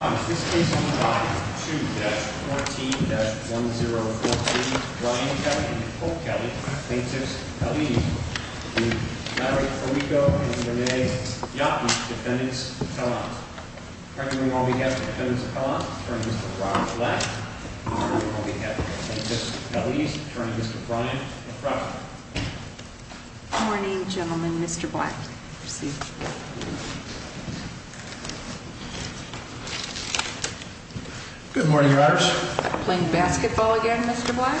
and the defendants. On behalf of the defendants of Pelham, I turn Mr. Brock Black. On behalf of the plaintiffs, I turn Mr. Brian LaFroja. Morning, gentlemen. Mr. Black, proceed. Good morning, Your Honors. Playing basketball again, Mr. Black?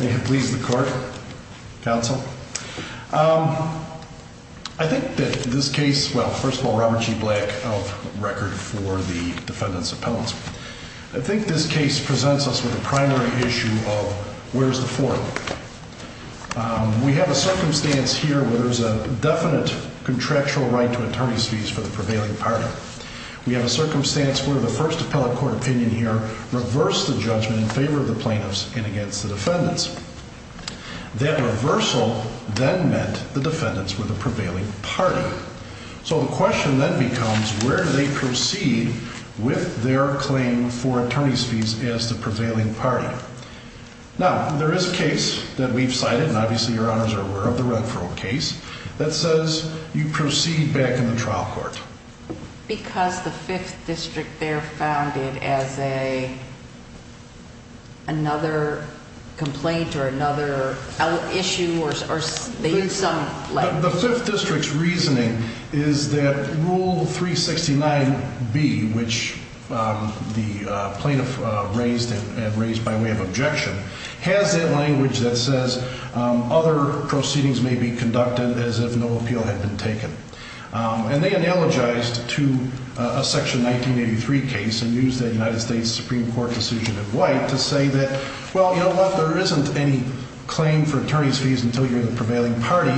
May it please the court, counsel. I think that this case, well, first of all, Robert G. Black of record for the defendants of Pelham. I think this case presents us with a primary issue of where's the forum? We have a circumstance here where there's a definite contractual right to attorney's fees for the prevailing party. We have a circumstance where the first appellate court opinion here reversed the judgment in favor of the plaintiffs and against the defendants. That reversal then meant the defendants were the prevailing party. So the question then becomes where do they proceed with their claim for attorney's fees as the prevailing party? Now, there is a case that we've cited, and obviously Your Honors are aware of the Renfro case, that says you proceed back in the trial court. Because the 5th District there found it as another complaint or another issue or they used some language. The 5th District's reasoning is that Rule 369B, which the plaintiffs have used as a way of objection, has that language that says other proceedings may be conducted as if no appeal had been taken. And they analogized to a Section 1983 case and used that United States Supreme Court decision in White to say that, well, you know what, there isn't any claim for attorney's fees until you're the prevailing party.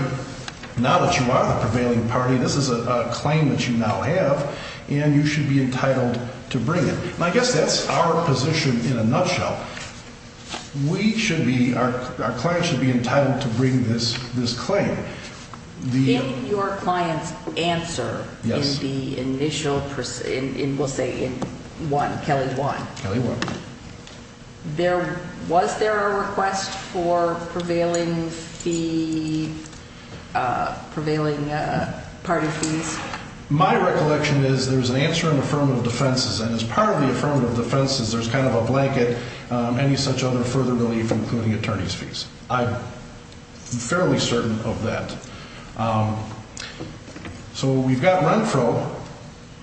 Now that you are the prevailing party, this is a claim that you now have, and you should be entitled to bring it. And I guess that's our position in a nutshell. We should be, our client should be entitled to bring this claim. In your client's answer in the initial, we'll say in 1, Kelly 1, was there a request for prevailing fee, prevailing party fees? My recollection is there's an answer in affirmative defenses, and as part of the affirmative defenses, there's kind of a blanket, any such other further relief including attorney's fees. I'm fairly certain of that. So we've got Renfro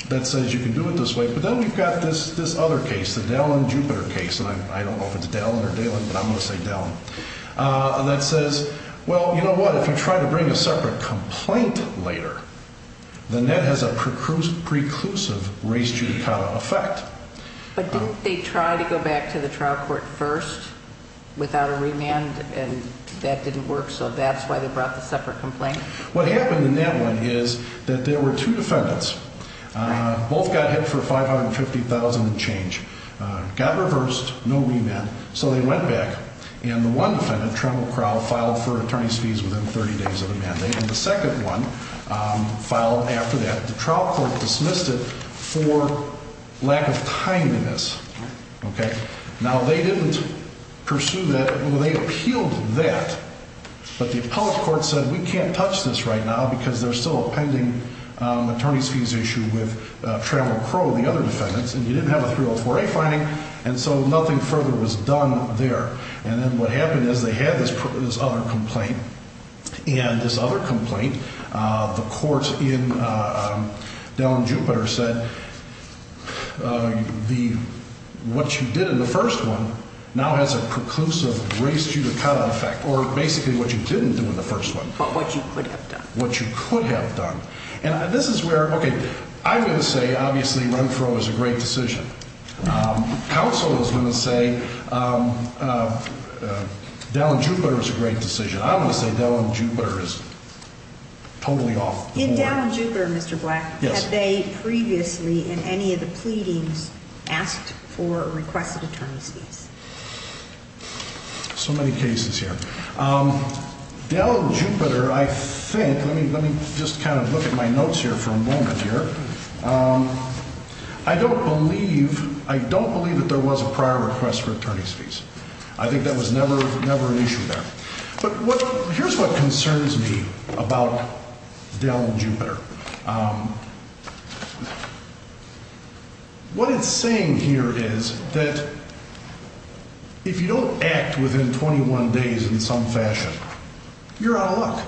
that says you can do it this way, but then we've got this other case, the Dallin-Jupiter case, and I don't know if it's Dallin or Dallin, but I'm going to say Dallin, that says, well, you If I try to bring a separate complaint later, then that has a preclusive race judicata effect. But didn't they try to go back to the trial court first without a remand, and that didn't work, so that's why they brought the separate complaint? What happened in that one is that there were two defendants. Both got hit for $550,000 and change. Got reversed, no remand, so they went back, and the one defendant, Trammell Crowe, filed for attorney's fees within 30 days of the mandate, and the second one filed after that. The trial court dismissed it for lack of timeliness. Now, they didn't pursue that. Well, they appealed that, but the appellate court said we can't touch this right now because there's still a pending attorney's fees issue with Trammell Crowe and the other defendants, and you didn't have a 304A fine, and so nothing further was done there, and then what happened is they had this other complaint, and this other complaint, the court in Dell and Jupiter said what you did in the first one now has a preclusive race judicata effect, or basically what you didn't do in the first one. But what you could have done. What you could have done, and this is where, okay, I'm going to say, obviously, Trammell Crowe is a great decision. Counsel is going to say Dell and Jupiter is a great decision. I'm going to say Dell and Jupiter is totally off the board. In Dell and Jupiter, Mr. Black, have they previously in any of the pleadings asked for or requested attorney's fees? So many cases here. Dell and Jupiter, I think, let me just kind of look at my notes here for a moment here. I don't believe that there was a prior request for attorney's fees. I think that was never an issue there. But here's what concerns me about Dell and Jupiter. What it's saying here is that if you don't act within 21 days in some fashion, you're out of luck,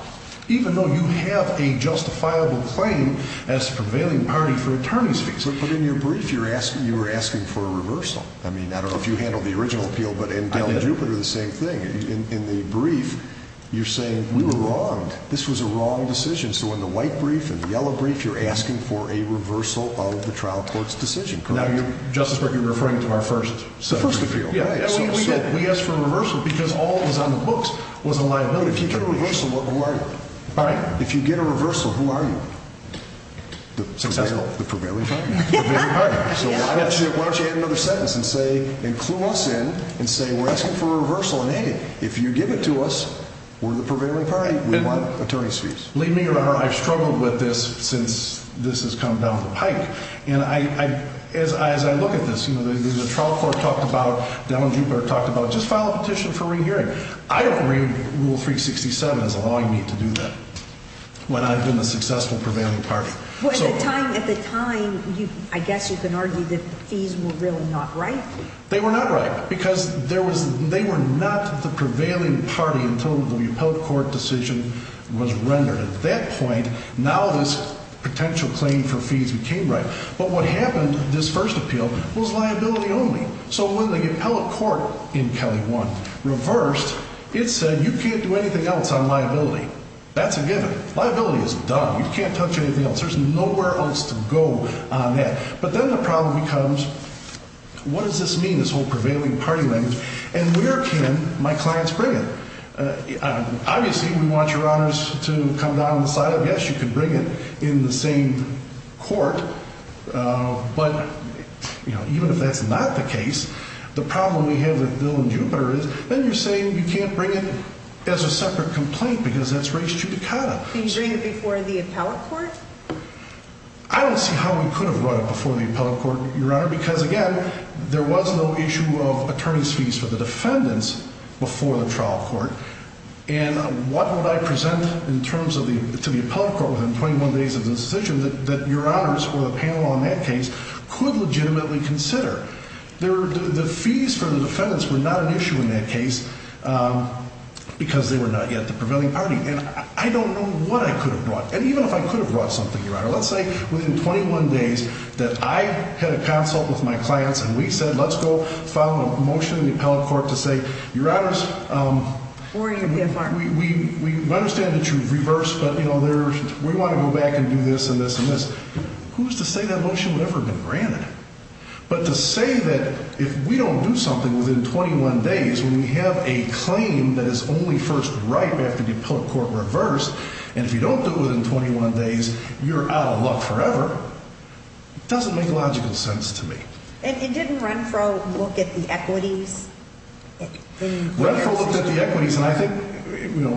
even though you have a prevailing party for attorney's fees. But in your brief, you were asking for a reversal. I mean, I don't know if you handled the original appeal, but in Dell and Jupiter, the same thing. In the brief, you're saying, we were wrong. This was a wrong decision. So in the white brief and the yellow brief, you're asking for a reversal of the trial court's decision. Now, Justice Breyer, you're referring to our first appeal. We asked for a reversal because all that was on the books was a liability. If you get a reversal, who are you? The prevailing party. So why don't you add another sentence and clue us in and say, we're asking for a reversal, and hey, if you give it to us, we're the prevailing party. We want attorney's fees. Believe me, Your Honor, I've struggled with this since this has come down the pike. As I look at this, the trial court talked about, Dell and Jupiter talked about, just file a petition for re-hearing. I don't agree with Rule 367 as allowing me to do that when I've been a successful prevailing party. At the time, I guess you can argue that the fees were really not right. They were not right because they were not the prevailing party until the appellate court decision was rendered. At that point, now this potential claim for fees became right. But what happened, this first appeal, was liability only. So when the appellate court in Kelly 1 reversed, it said, you can't do anything else on liability. That's a given. Liability is done. You can't touch anything else. There's nowhere else to go on that. But then the problem becomes, what does this mean, this whole prevailing party language, and where can my clients bring it? Obviously, we want Your Honors to come down on the side of, yes, you can bring it in the same court, but even if that's not the case, the problem we have with Dill and Jupiter is, then you're saying you can't bring it as a separate complaint because that's res judicata. I don't see how we could have brought it before the appellate court, Your Honor, because again, there was no issue of attorney's fees for the defendants before the trial court, and what would I present to the appellate court within 21 days of the decision that Your Honors or the panel on that case could legitimately consider? The fees for the defendants were not an issue in that case because they were not yet the prevailing party, and I don't know what I could have brought, and even if I could have brought something, Your Honor, let's say within 21 days that I had a consult with my clients and we said, let's go file a motion in the appellate court to say, Your Honors, we understand that you've reversed, but we want to go back and do this and this and this. Who's to say that motion would have never been granted? But to say that if we don't do something within 21 days, when we have a claim that is only first right after the appellate court reversed, and if you don't do it within 21 days, you're out of luck forever, doesn't make logical sense to me. And didn't Renfro look at the equities? Renfro looked at the equities, and I think, you know,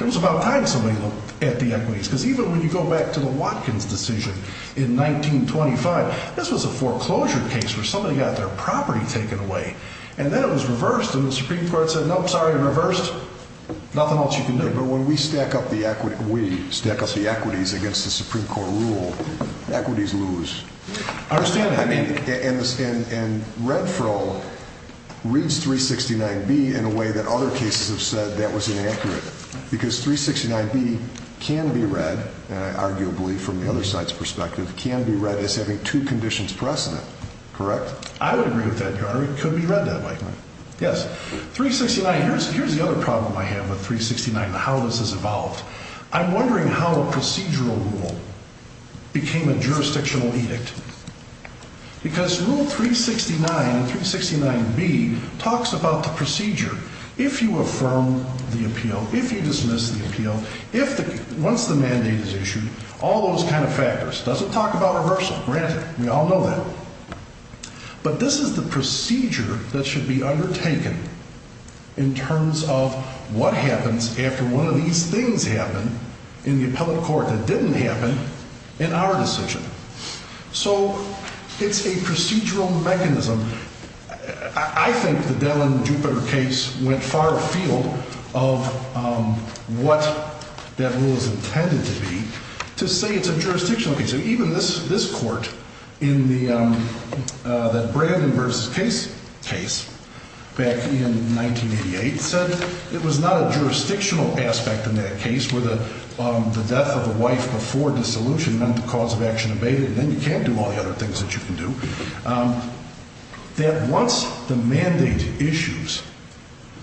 it was about time somebody looked at the equities because even when you go back to the Watkins decision in 1925, this was a foreclosure case where somebody got their property taken away, and then it was reversed, and the Supreme Court said, nope, sorry, reversed, nothing else you can do. But when we stack up the equities against the Supreme Court rule, equities lose. I understand that. And Renfro reads 369B in a way that other cases have said that was inaccurate because 369B can be read arguably from the other side's perspective, can be read as having two conditions precedent, correct? I would agree with that, Your Honor. It could be read that way. Yes. 369, here's the other problem I have with 369 and how this has evolved. I'm wondering how a procedural rule became a jurisdictional edict because Rule 369 and 369B talks about the procedure. If you affirm the appeal, if you dismiss the appeal, once the mandate is issued, all those kind of factors. It doesn't talk about reversal, granted. We all know that. But this is the procedure that should be undertaken in terms of what happens after one of these things happen in the appellate court that didn't happen in our decision. So it's a procedural mechanism. I think the Dell and Jupiter case went far afield of what that rule is intended to be to say it's a jurisdictional case. And even this court in that Brandon vs. Case case back in 1988 said it was not a jurisdictional aspect in that case where the death of the wife before dissolution meant the cause of action abated and then you can't do all the other things that you can do. That once the mandate issues,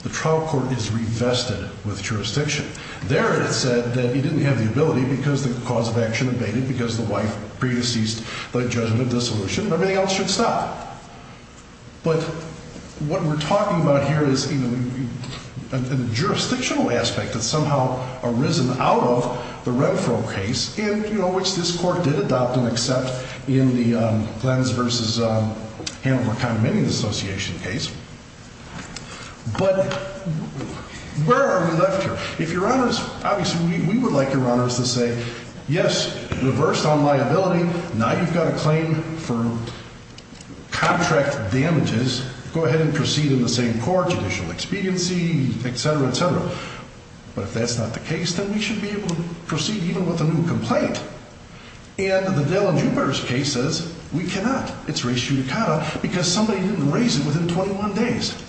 the trial court is revested with jurisdiction. There it said that he didn't have the ability because the cause of action abated because the wife pre-deceased by judgment of dissolution and everything else should stop. But what we're talking about here is a jurisdictional aspect that somehow arisen out of the Renfro case, which this court did adopt and accept in the Glenn's vs. Hanover Condemnation Association case. But where are we left here? If Your Honors, obviously we would like Your Honors to say yes, reversed on liability, now you've got a claim for contract damages, go ahead and proceed in the same court, judicial expediency, etc., etc. But if that's not the case, then we should be able to proceed even with a new complaint. And the Dell and Jupiter's case says we cannot. It's res judicata because somebody didn't raise it within 21 days.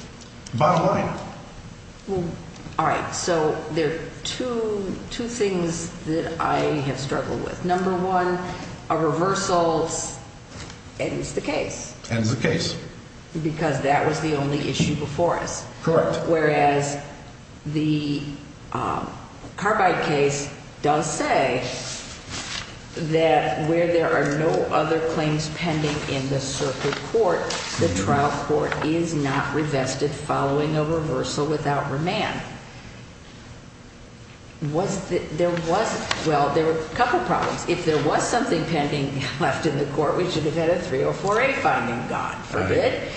Bottom line. Alright, so there are two things that I have struggled with. Number one, a reversal ends the case. Because that was the only issue before us. Correct. Whereas the Carbide case does say that where there are no other claims pending in the circuit court, the trial court is not revested following a reversal without remand. There was, well, there were a couple problems. If there was something pending left in the court, we should have had a 304A fine and gone. Forbid.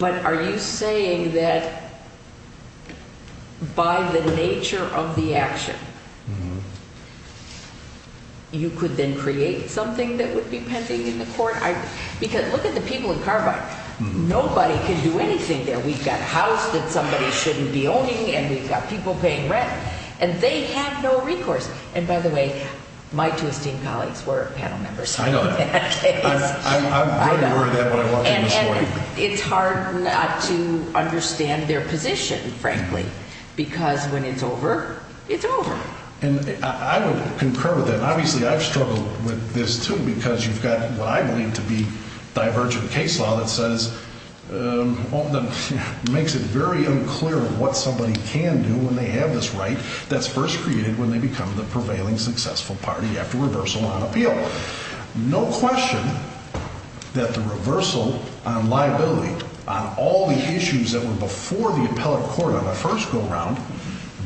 But are you saying that by the nature of the action you could then create something that would be pending in the court? Because look at the people in Carbide. Nobody can do anything there. We've got a house that somebody shouldn't be owning and we've got people paying rent. And they have no recourse. And by the way, my two esteemed colleagues were panel members. I'm very aware of that when I'm watching this morning. And it's hard not to understand their position, frankly. Because when it's over, it's over. I would concur with that. Obviously, I've struggled with this, too, because you've got what I believe to be divergent case law that says makes it very unclear what somebody can do when they have this right that's first created when they become the prevailing successful party after reversal on appeal. No question that the reversal on liability, on all the issues that were before the appellate court on the first go-round,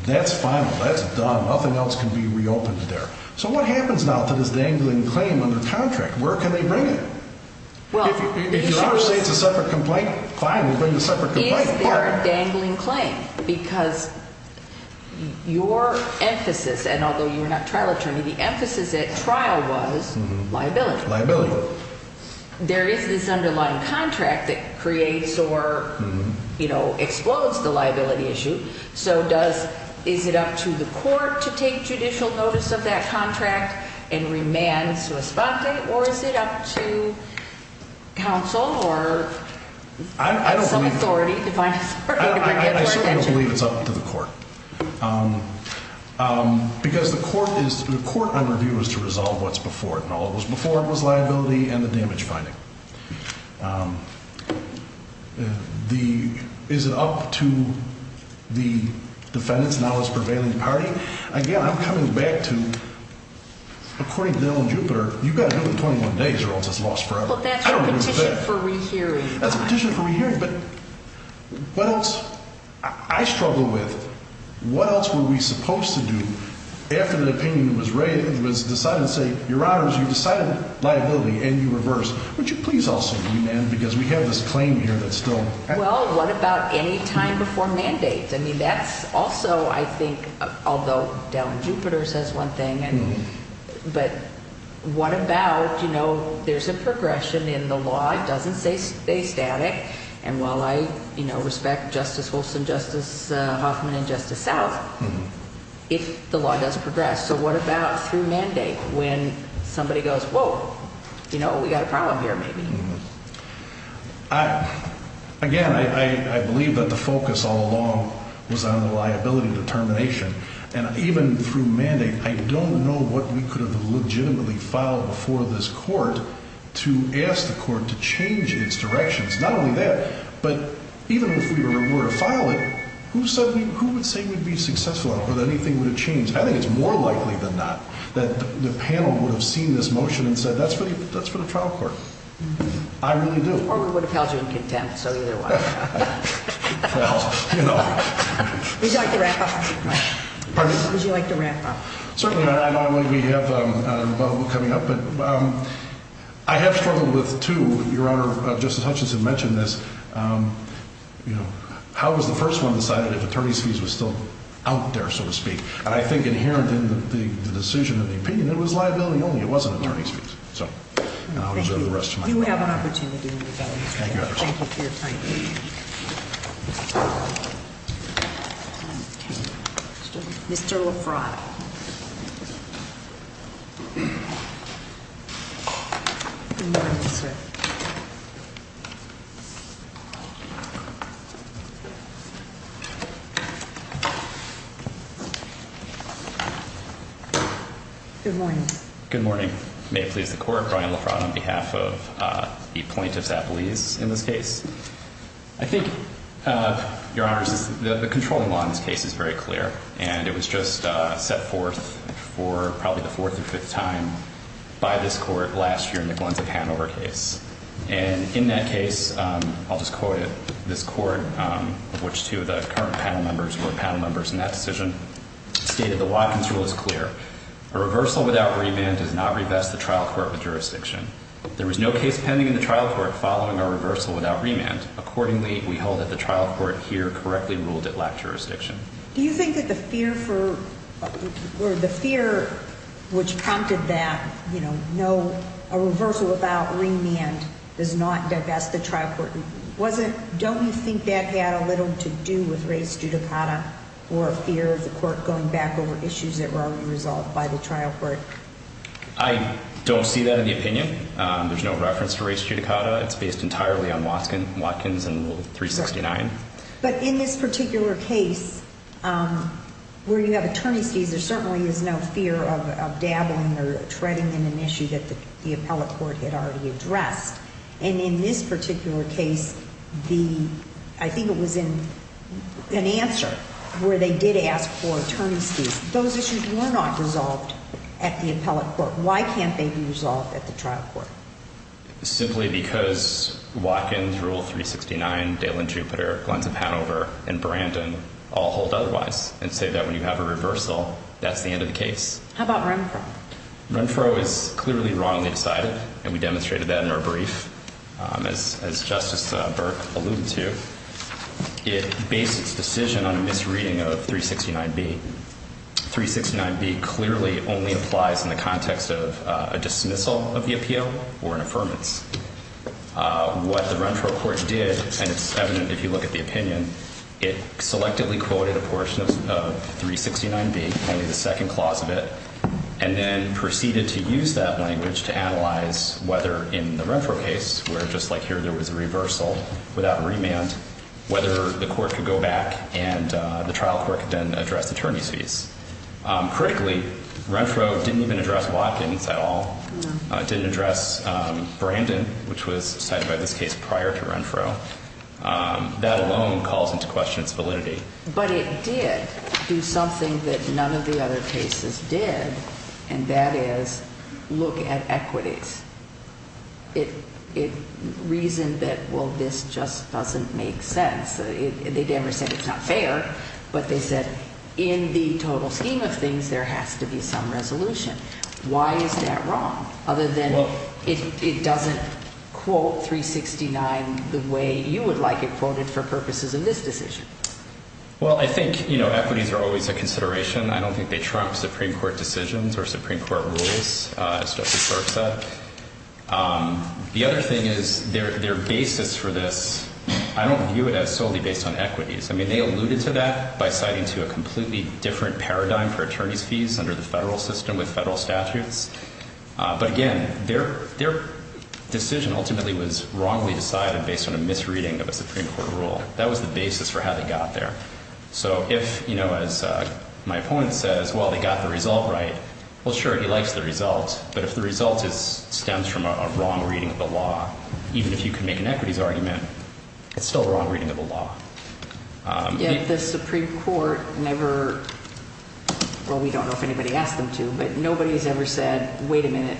that's final. That's done. Nothing else can be reopened there. So what happens now to this dangling claim under contract? Where can they bring it? If you say it's a separate complaint, fine, we'll bring the separate complaint. Is there a dangling claim? Because your emphasis and although you're not a trial attorney, the emphasis at trial was liability. There is this underlying contract that creates or explodes the liability issue. So is it up to the court to take judicial notice of that contract and remand sui sponte? Or is it up to counsel or some authority to bring it to our attention? I certainly don't believe it's up to the court. Because the court on review is to resolve what's before it. And all that was before it was liability and the damage finding. Is it up to the defendants now as prevailing party? Again, I'm coming back to according to Dillon Jupiter, you've got to do it in 21 days or else it's lost forever. That's a petition for rehearing. I struggle with what else were we supposed to do after the opinion was decided to say, your honors, you have to reverse. Would you please also remand? Because we have this claim here that's still Well, what about any time before mandate? That's also I think, although Dillon Jupiter says one thing but what about, you know, there's a progression in the law. It doesn't stay static. And while I respect Justice Holson, Justice Hoffman and Justice South if the law does progress. So what about through mandate when somebody goes, whoa, you know, we've got a problem here maybe. Again, I believe that the focus all along was on the liability determination. And even through mandate, I don't know what we could have legitimately filed before this court to ask the court to change its directions. Not only that, but even if we were to file it, who would say we'd be successful or that anything would have changed? I think it's more likely than not that the panel would have seen this motion and said, that's for the trial court. I really do. Or we would have held you in contempt. So either way. Well, you know. Would you like to wrap up? Pardon me? Would you like to wrap up? Certainly. I know we have a bubble coming up. But I have struggled with two Your Honor, Justice Hutchinson mentioned this. How was the first one decided if attorney's fees were still out there, so to speak? And I think inherent in the decision of the opinion, it was liability only. It wasn't attorney's fees. So I'll reserve the rest of my time. Thank you for your time. Mr. LaFrod. Good morning, sir. Good morning. May it please the court, Brian LaFrod on behalf of the plaintiff's appellees in this case. I think, Your Honor, the controlling law in this case is very clear. And it was just set forth for probably the fourth or fifth time by this court last year in the Glens of Hanover case. And in that case, I'll just quote it, this court, of which two of the current panel members in that decision stated, the Watkins rule is clear. A reversal without remand does not revest the trial court with jurisdiction. There was no case pending in the trial court following a reversal without remand. Accordingly, we hold that the trial court here correctly ruled it lacked jurisdiction. Do you think that the fear for, or the fear which prompted that, you know, no, a reversal without remand does not divest the trial court, was it, don't you think that had little to do with res judicata or a fear of the court going back over issues that were already resolved by the trial court? I don't see that in the opinion. There's no reference to res judicata. It's based entirely on Watkins and Rule 369. But in this particular case, where you have attorneys fees, there certainly is no fear of dabbling or treading in an issue that the appellate court had already addressed. And in this particular case, the, I think it was in an answer where they did ask for attorney's fees. Those issues were not resolved at the appellate court. Why can't they be resolved at the trial court? Simply because Watkins, Rule 369, Dale and Jupiter, Glenns of Hanover, and Brandon all hold otherwise and say that when you have a reversal, that's the end of the case. How about Renfro? Renfro is clearly wrongly decided and we demonstrated that in our brief as Justice Burke alluded to. It based its decision on a misreading of 369B. 369B clearly only applies in the context of a dismissal of the appeal or an affirmance. What the Renfro court did, and it's evident if you look at the opinion, it selectively quoted a portion of 369B, only the second portion of 369B. And that's whether in the Renfro case, where just like here there was a reversal without remand, whether the court could go back and the trial court could then address attorney's fees. Critically, Renfro didn't even address Watkins at all. It didn't address Brandon, which was cited by this case prior to Renfro. That alone calls into question its validity. But it did do something that none of the other cases did, and that is look at equities. Reason that, well, this just doesn't make sense. They never said it's not fair, but they said in the total scheme of things, there has to be some resolution. Why is that wrong? Other than it doesn't quote 369 the way you would like it quoted for purposes of this decision. Well, I think equities are always a consideration. I don't think they trump Supreme Court decisions or Supreme Court rules, etc. The other thing is their basis for this I don't view it as solely based on equities. I mean, they alluded to that by citing to a completely different paradigm for attorney's fees under the federal system with federal statutes. But again, their decision ultimately was wrongly decided based on a misreading of a Supreme Court rule. That was the basis for how they got there. So if, you know, as my opponent says, well, they got the result right, well, sure, he likes the result. But if the result stems from a wrong reading of the law, even if you can make an equities argument, it's still a wrong reading of the law. The Supreme Court never, well, we don't know if anybody asked them to, but nobody's ever said, wait a minute,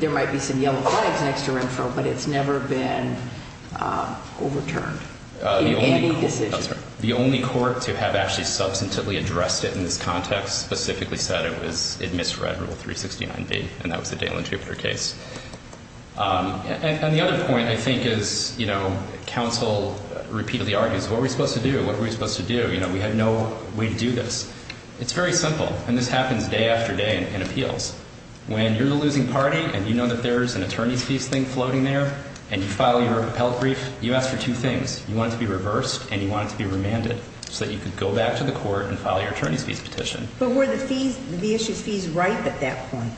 there might be some yellow flags next to Renfro, but it's never been overturned in any decision. The only court to have actually substantively addressed it in this context specifically said it misread Rule 369B and that was the Dale and Jupiter case. And the other point I think is, you know, counsel repeatedly argues, what are we supposed to do? What are we supposed to do? You know, we had no way to do this. It's very simple. And this happens day after day in appeals. When you're the losing party and you know that there's an attorney's fees thing floating there and you file your case, you want it to be reversed and you want it to be remanded so that you can go back to the court and file your attorney's fees petition. But were the fees, the issued fees, ripe at that point?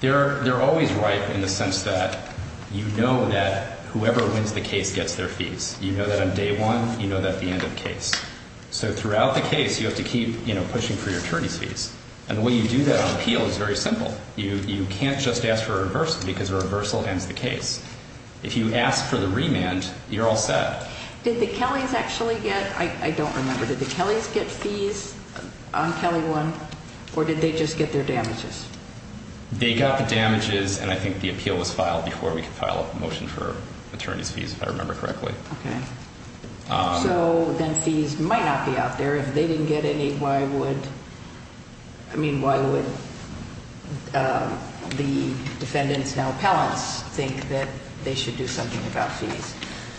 They're always ripe in the sense that you know that whoever wins the case gets their fees. You know that on day one, you know that at the end of the case. So throughout the case, you have to keep, you know, pushing for your attorney's fees. And the way you do that on appeal is very simple. You can't just ask for a reversal because a reversal ends the case. If you ask for the remand, you're all set. Did the Kellys actually get, I don't remember, did the Kellys get fees on Kelly 1 or did they just get their damages? They got the damages and I think the appeal was filed before we could file a motion for attorney's fees if I remember correctly. So then fees might not be out there. If they didn't get any, why would, I mean, why would the defendants, now appellants, think that they should do something about fees?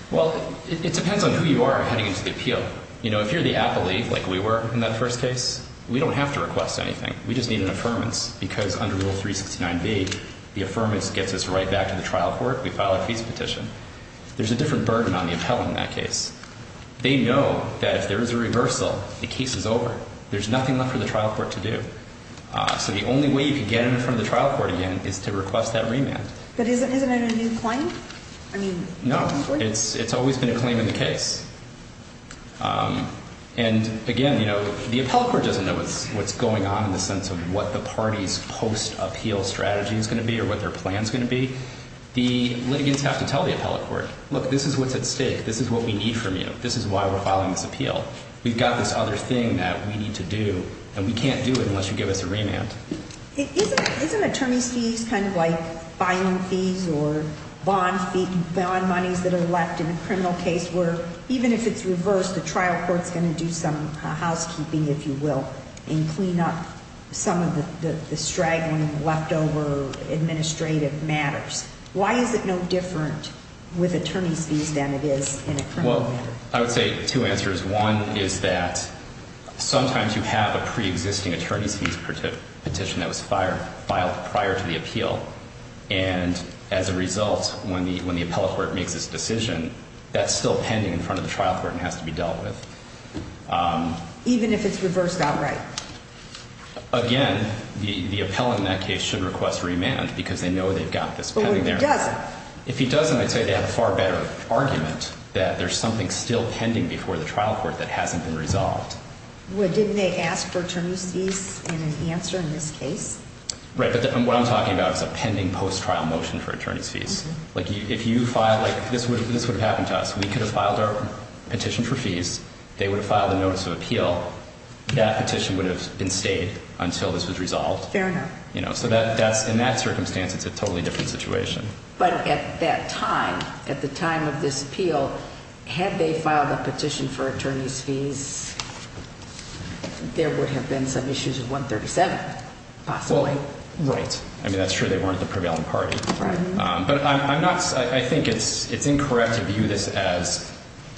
Well, it depends on who you are heading into the appeal. You know, if you're the appellee, like we were in that first case, we don't have to request anything. We just need an affirmance because under Rule 369B, the affirmance gets us right back to the trial court. We file a fees petition. There's a different burden on the appellant in that case. They know that if there is a reversal, the case is over. There's nothing left for the trial court to do. So the only way you can get in front of the trial court again is to request that remand. But isn't it a new claim? No, it's always been a claim in the case. And again, you know, the appellate court doesn't know what's going on in the sense of what the party's post-appeal strategy is going to be or what their plan is going to be. The litigants have to tell the appellate court, look, this is what's at stake. This is what we need from you. This is why we're filing this appeal. We've got this other thing that we need to do and we can't do it unless you give us a remand. Isn't attorney's fees kind of like filing fees or bond monies that are left in a criminal case where even if it's reversed, the trial court's going to do some housekeeping if you will and clean up some of the straggling leftover administrative matters? Why is it no different with attorney's fees than it is in a criminal matter? Well, I would say two answers. One is that sometimes you have a pre-existing attorney's fees petition that was filed prior to the appeal. And as a result, when the appellate court makes this decision, that's still pending in front of the trial court and has to be dealt with. Even if it's reversed outright? Again, the appellant in that case should request remand because they know they've got this pending there. But what if he doesn't? If he doesn't, I'd say they have a far better argument that there's something still pending before the trial court that hasn't been resolved. Didn't they ask for attorney's fees in an answer in this case? Right, but what I'm talking about is a pending post-trial motion for attorney's fees. If you filed, like this would have happened to us, we could have filed our petition for fees, they would have filed a notice of appeal, that petition would have been stayed until this was resolved. In that circumstance, it's a totally different situation. But at that time, at the time of this appeal, had they filed a petition for attorney's fees, there would have been some issues with 137, possibly. That's true, they weren't the prevailing party. I think it's incorrect to view this as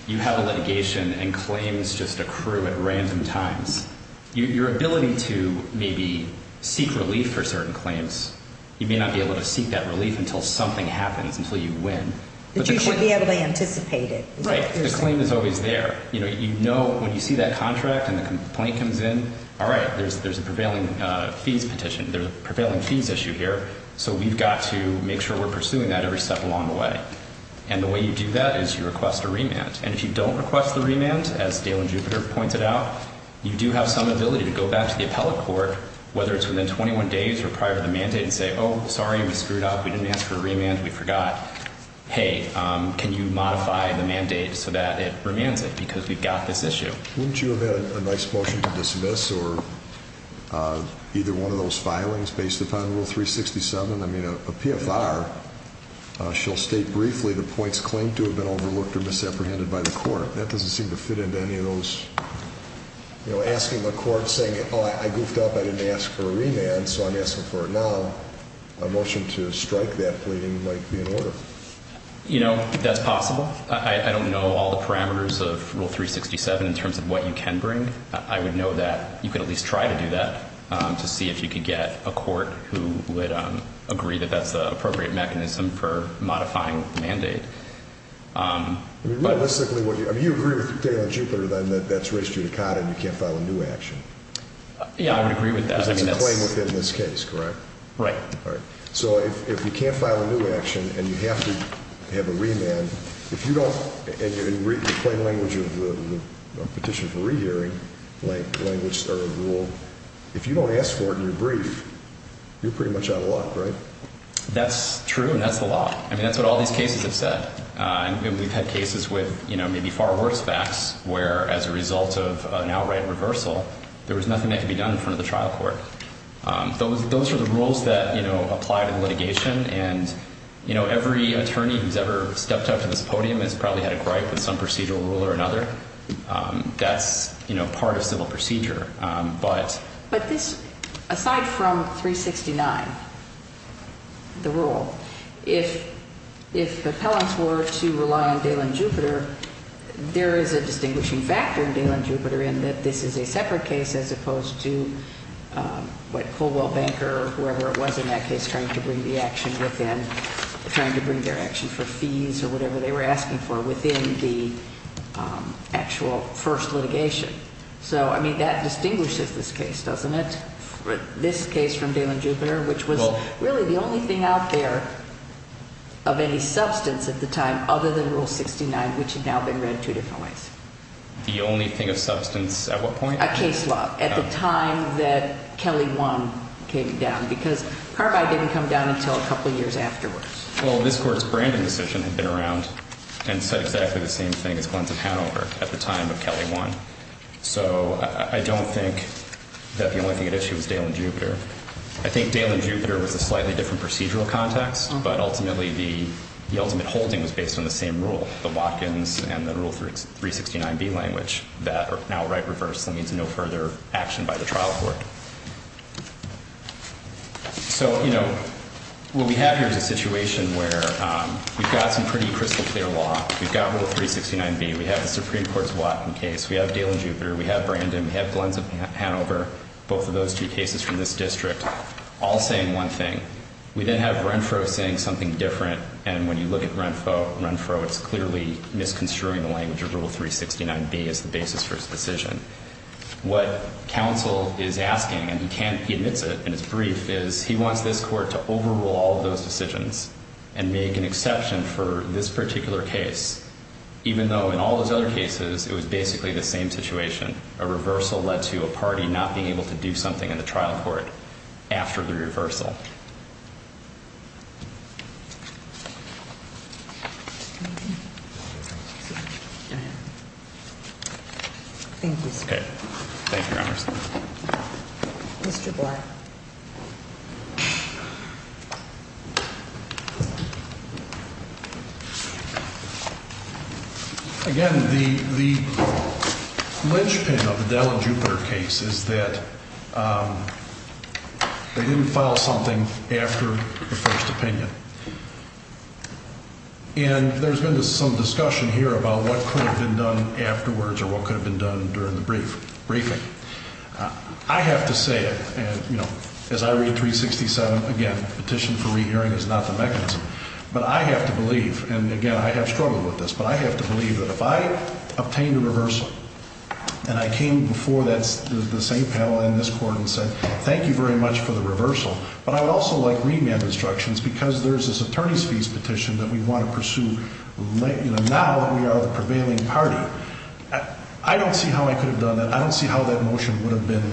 you have a litigation and claims just accrue at random times. Your ability to maybe seek relief for certain claims, you may not be able to seek that relief until something happens, until you win. But you should be able to anticipate it. Right, the claim is always there. You know, when you see that contract and the complaint comes in, alright, there's a prevailing fees petition, there's a prevailing fees issue here, so we've got to make sure we're pursuing that every step along the way. And the way you do that is you request a remand. And if you don't request the remand, as Dale and Jupiter pointed out, you do have some ability to go back to the appellate court, whether it's within 21 days or prior to the mandate, and say, oh, sorry, we screwed up, we didn't ask for a remand, we forgot. Hey, can you modify the mandate so that it remands it? Because we've got this issue. Wouldn't you have had a nice motion to dismiss or either one of those filings based upon Rule 367? I mean, a PFR shall state briefly the points claimed to have been overlooked or misapprehended by the court. That doesn't seem to fit into any of those, you know, asking the court, saying, oh, I goofed up, I didn't ask for a remand, so I'm asking for it now. A motion to strike that pleading might be in order. You know, that's possible. I don't know all the parameters of Rule 367 in terms of what you can bring. I would know that you could at least try to do that to see if you could get a court who would agree that that's the appropriate mechanism for modifying the mandate. Realistically, would you agree with Dale and Jupiter then that that's res judicata and you can't file a new action? Yeah, I would agree with that. That's a claim within this case, correct? Right. So if you can't file a new action and you have to have a remand, if you don't, in the plain language of the petition for rehearing language or rule, if you don't ask for it in your brief, you're pretty much out of luck, right? That's true, and that's the law. I mean, that's what all these cases have said. We've had cases with, you know, maybe far worse facts where, as a result of an outright reversal, there was nothing that could be done in front of the trial court. Those are the rules that apply to the litigation, and every attorney who's ever stepped up to this podium has probably had a gripe with some procedural rule or another. That's part of civil procedure. But aside from 369, the rule, if appellants were to rely on Dale and Jupiter, there is a distinguishing factor in Dale and Jupiter in that this is a separate case as opposed to what Colwell Banker or whoever it was in that case trying to bring the action within, trying to bring their action for fees or whatever they were asking for within the actual first litigation. So, I mean, that distinguishes this case, doesn't it, this case from Dale and Jupiter, which was really the only thing out there of any substance at the time other than Rule 69, which had now been reviewed in two different ways. The only thing of substance at what point? A case law at the time that Kelly 1 came down, because Parbi didn't come down until a couple years afterwards. Well, this Court's branding decision had been around and said exactly the same thing as Glenson-Hanover at the time of Kelly 1. So I don't think that the only thing at issue was Dale and Jupiter. I think Dale and Jupiter was a slightly different procedural context, but ultimately the ultimate holding was based on the same rule, the Watkins and the Rule 369B language that are now right reverse. That means no further action by the trial court. So, you know, what we have here is a situation where we've got some pretty crystal clear law. We've got Rule 369B. We have the Supreme Court's Watkins case. We have Dale and Jupiter. We have Brandon. We have Glenson-Hanover. Both of those two cases from this district all saying one thing. We then have Renfro saying something different, and when you look at Renfro, it's clearly misconstruing the language of Rule 369B as the basis for his decision. What counsel is asking, and he admits it in his brief, is he wants this Court to overrule all of those decisions and make an exception for this particular case, even though in all those other cases it was basically the same situation. A reversal led to a party not being able to do something in the trial court after the reversal. Thank you, sir. Thank you, Your Honor. Mr. Black. Again, the linchpin of the Dale and Jupiter case is that they didn't file something after the first opinion, and there's been some discussion here about what could have been done afterwards or what could have been done during the briefing. I have to say, as I read 367, again, petition for rehearing is not the mechanism, but I have to believe, and again, I have struggled with this, but I have to believe that if I obtained a reversal and I came before the same panel in this Court and said, thank you very much for the reversal, but I would also like remand instructions because there's this attorney's fees petition that we want to pursue now that we are the prevailing party. I don't see how I could have done that. I don't see how that motion would have been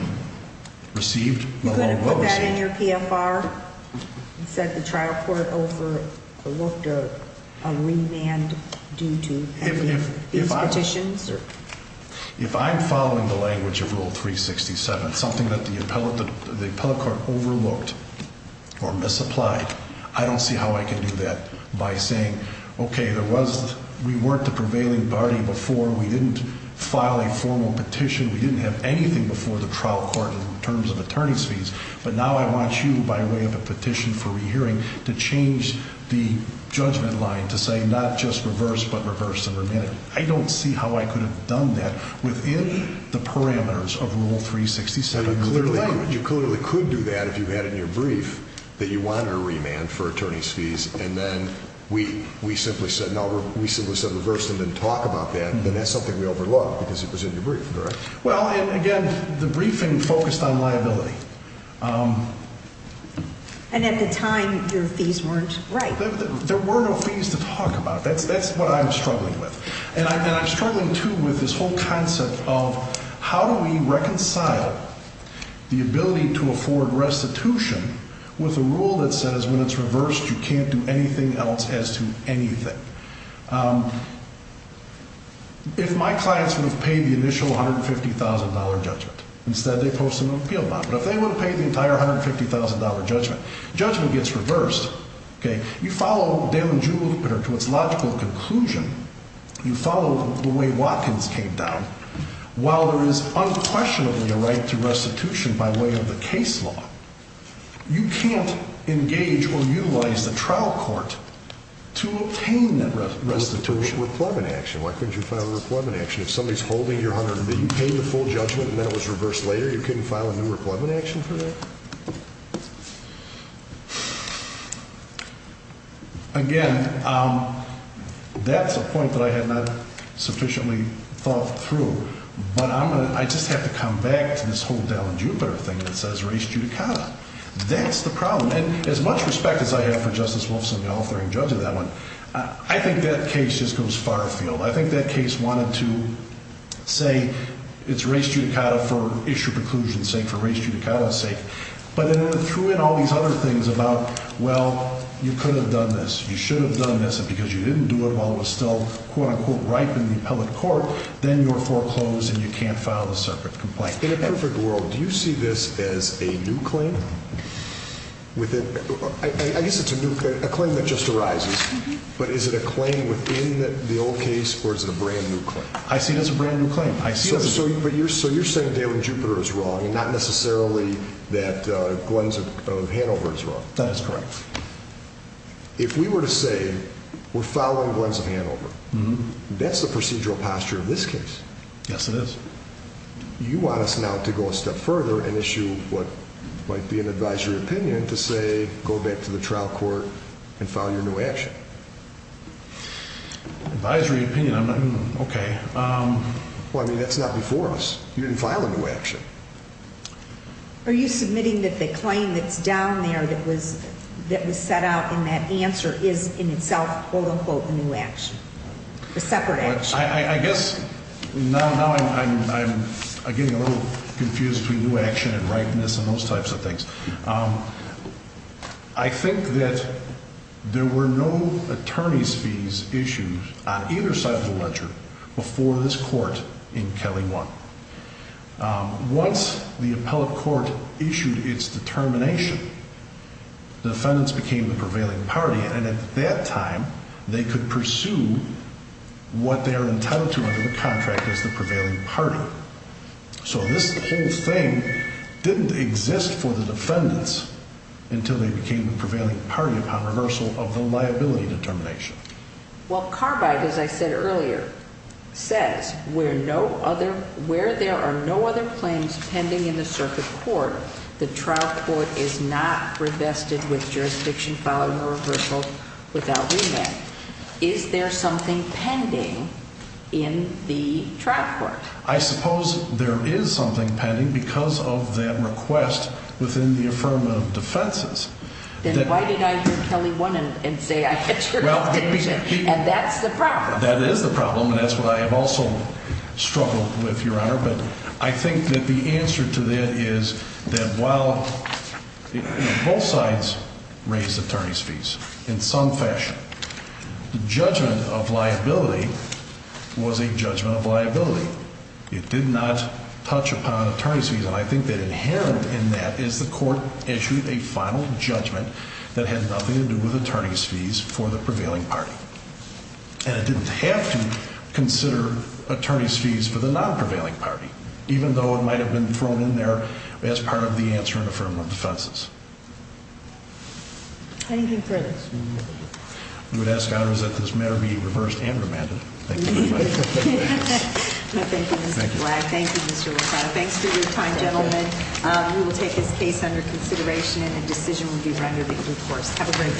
received. You couldn't put that in your PFR? You said the trial court overlooked a remand due to these petitions? If I'm following the language of Rule 367, something that the appellate court overlooked or misapplied, I don't see how I can do that by saying, okay, we weren't the prevailing party before, we didn't file a formal petition, we didn't have anything before the trial court in terms of attorney's fees, but now I want you, by way of a petition for rehearing, to change the judgment line to say not just reverse, but I don't see how I could have done that within the parameters of Rule 367. You clearly could do that if you had it in your brief that you wanted a remand for attorney's fees and then we simply said no, we simply said reverse and didn't talk about that, then that's something we overlooked because it was in your brief, correct? Well, again, the briefing focused on liability. And at the time, your fees weren't right. There were no fees to talk about. That's what I'm struggling, too, with this whole concept of how do we reconcile the ability to afford restitution with a rule that says when it's reversed, you can't do anything else as to anything. If my clients would have paid the initial $150,000 judgment, instead they post an appeal bond, but if they wouldn't pay the entire $150,000 judgment, judgment gets reversed. You follow Dale and Jewel to its logical conclusion. You follow the way Watkins came down. While there is unquestionably a right to restitution by way of the case law, you can't engage or utilize the trial court to obtain that restitution. Why couldn't you file a requirement action? If somebody's holding your $100 million, you paid the full judgment and then it was reversed later, you couldn't file a new requirement action for that? Again, that's a point that I have not sufficiently thought through, but I just have to come back to this whole Dale and Jupiter thing that says res judicata. That's the problem. As much respect as I have for Justice Wolfson, the authoring judge of that one, I think that case just goes far afield. I think that case wanted to say it's res judicata for issue preclusion's sake, for res judicata's Well, you could have done this. You should have done this because you didn't do it while it was still quote-unquote ripe in the appellate court, then you're foreclosed and you can't file a separate complaint. In a perfect world, do you see this as a new claim? I guess it's a new claim, a claim that just arises, but is it a claim within the old case or is it a brand new claim? I see it as a brand new claim. So you're saying Dale and Jupiter is wrong and not necessarily that Glenn's of Hanover is wrong. That is correct. If we were to say we're following Glenn's of Hanover, that's the procedural posture of this case. Yes, it is. You want us now to go a step further and issue what might be an advisory opinion to say go back to the trial court and file your new action. Advisory opinion? Okay. Well, I mean, that's not before us. You didn't file a new action. Are you submitting that the claim that's down there that was set out in that answer is in itself quote-unquote a new action? A separate action? I guess now I'm getting a little confused between new action and ripeness and those types of things. I think that there were no attorney's fees issues on either side of the ledger before this court in Kelly 1. Once the appellate court issued its determination, the defendants became the prevailing party and at that time they could pursue what they're entitled to under the contract as the prevailing party. So this whole thing didn't exist for the defendants until they became the prevailing party upon reversal of the liability determination. Well, Carbide, as I said earlier, says where there are no other claims pending in the circuit court, the trial court is not revested with jurisdiction following the reversal without remand. Is there something pending in the trial court? I suppose there is something pending because of that request within the affirmative defenses. Then why did I hear Kelly 1 and say I had jurisdiction? And that's the problem. That is the problem and that's what I have also struggled with, Your Honor, but I think that the answer to that is that while both sides raised attorney's fees in some fashion, the judgment of liability was a judgment of liability. It did not touch upon attorney's fees and I think that inherent in that is the court issued a final judgment that had nothing to do with attorney's fees for the prevailing party. And it didn't have to consider attorney's fees for the non-prevailing party even though it might have been thrown in there as part of the answer in affirmative defenses. Thank you for this. We would ask, Your Honor, that this matter be reversed and remanded. Thank you. Thank you, Mr. Black. Thank you, Mr. LaCroix. Thanks for your time, gentlemen. We will take this case under consideration and a decision will be rendered in due course. Have a great day.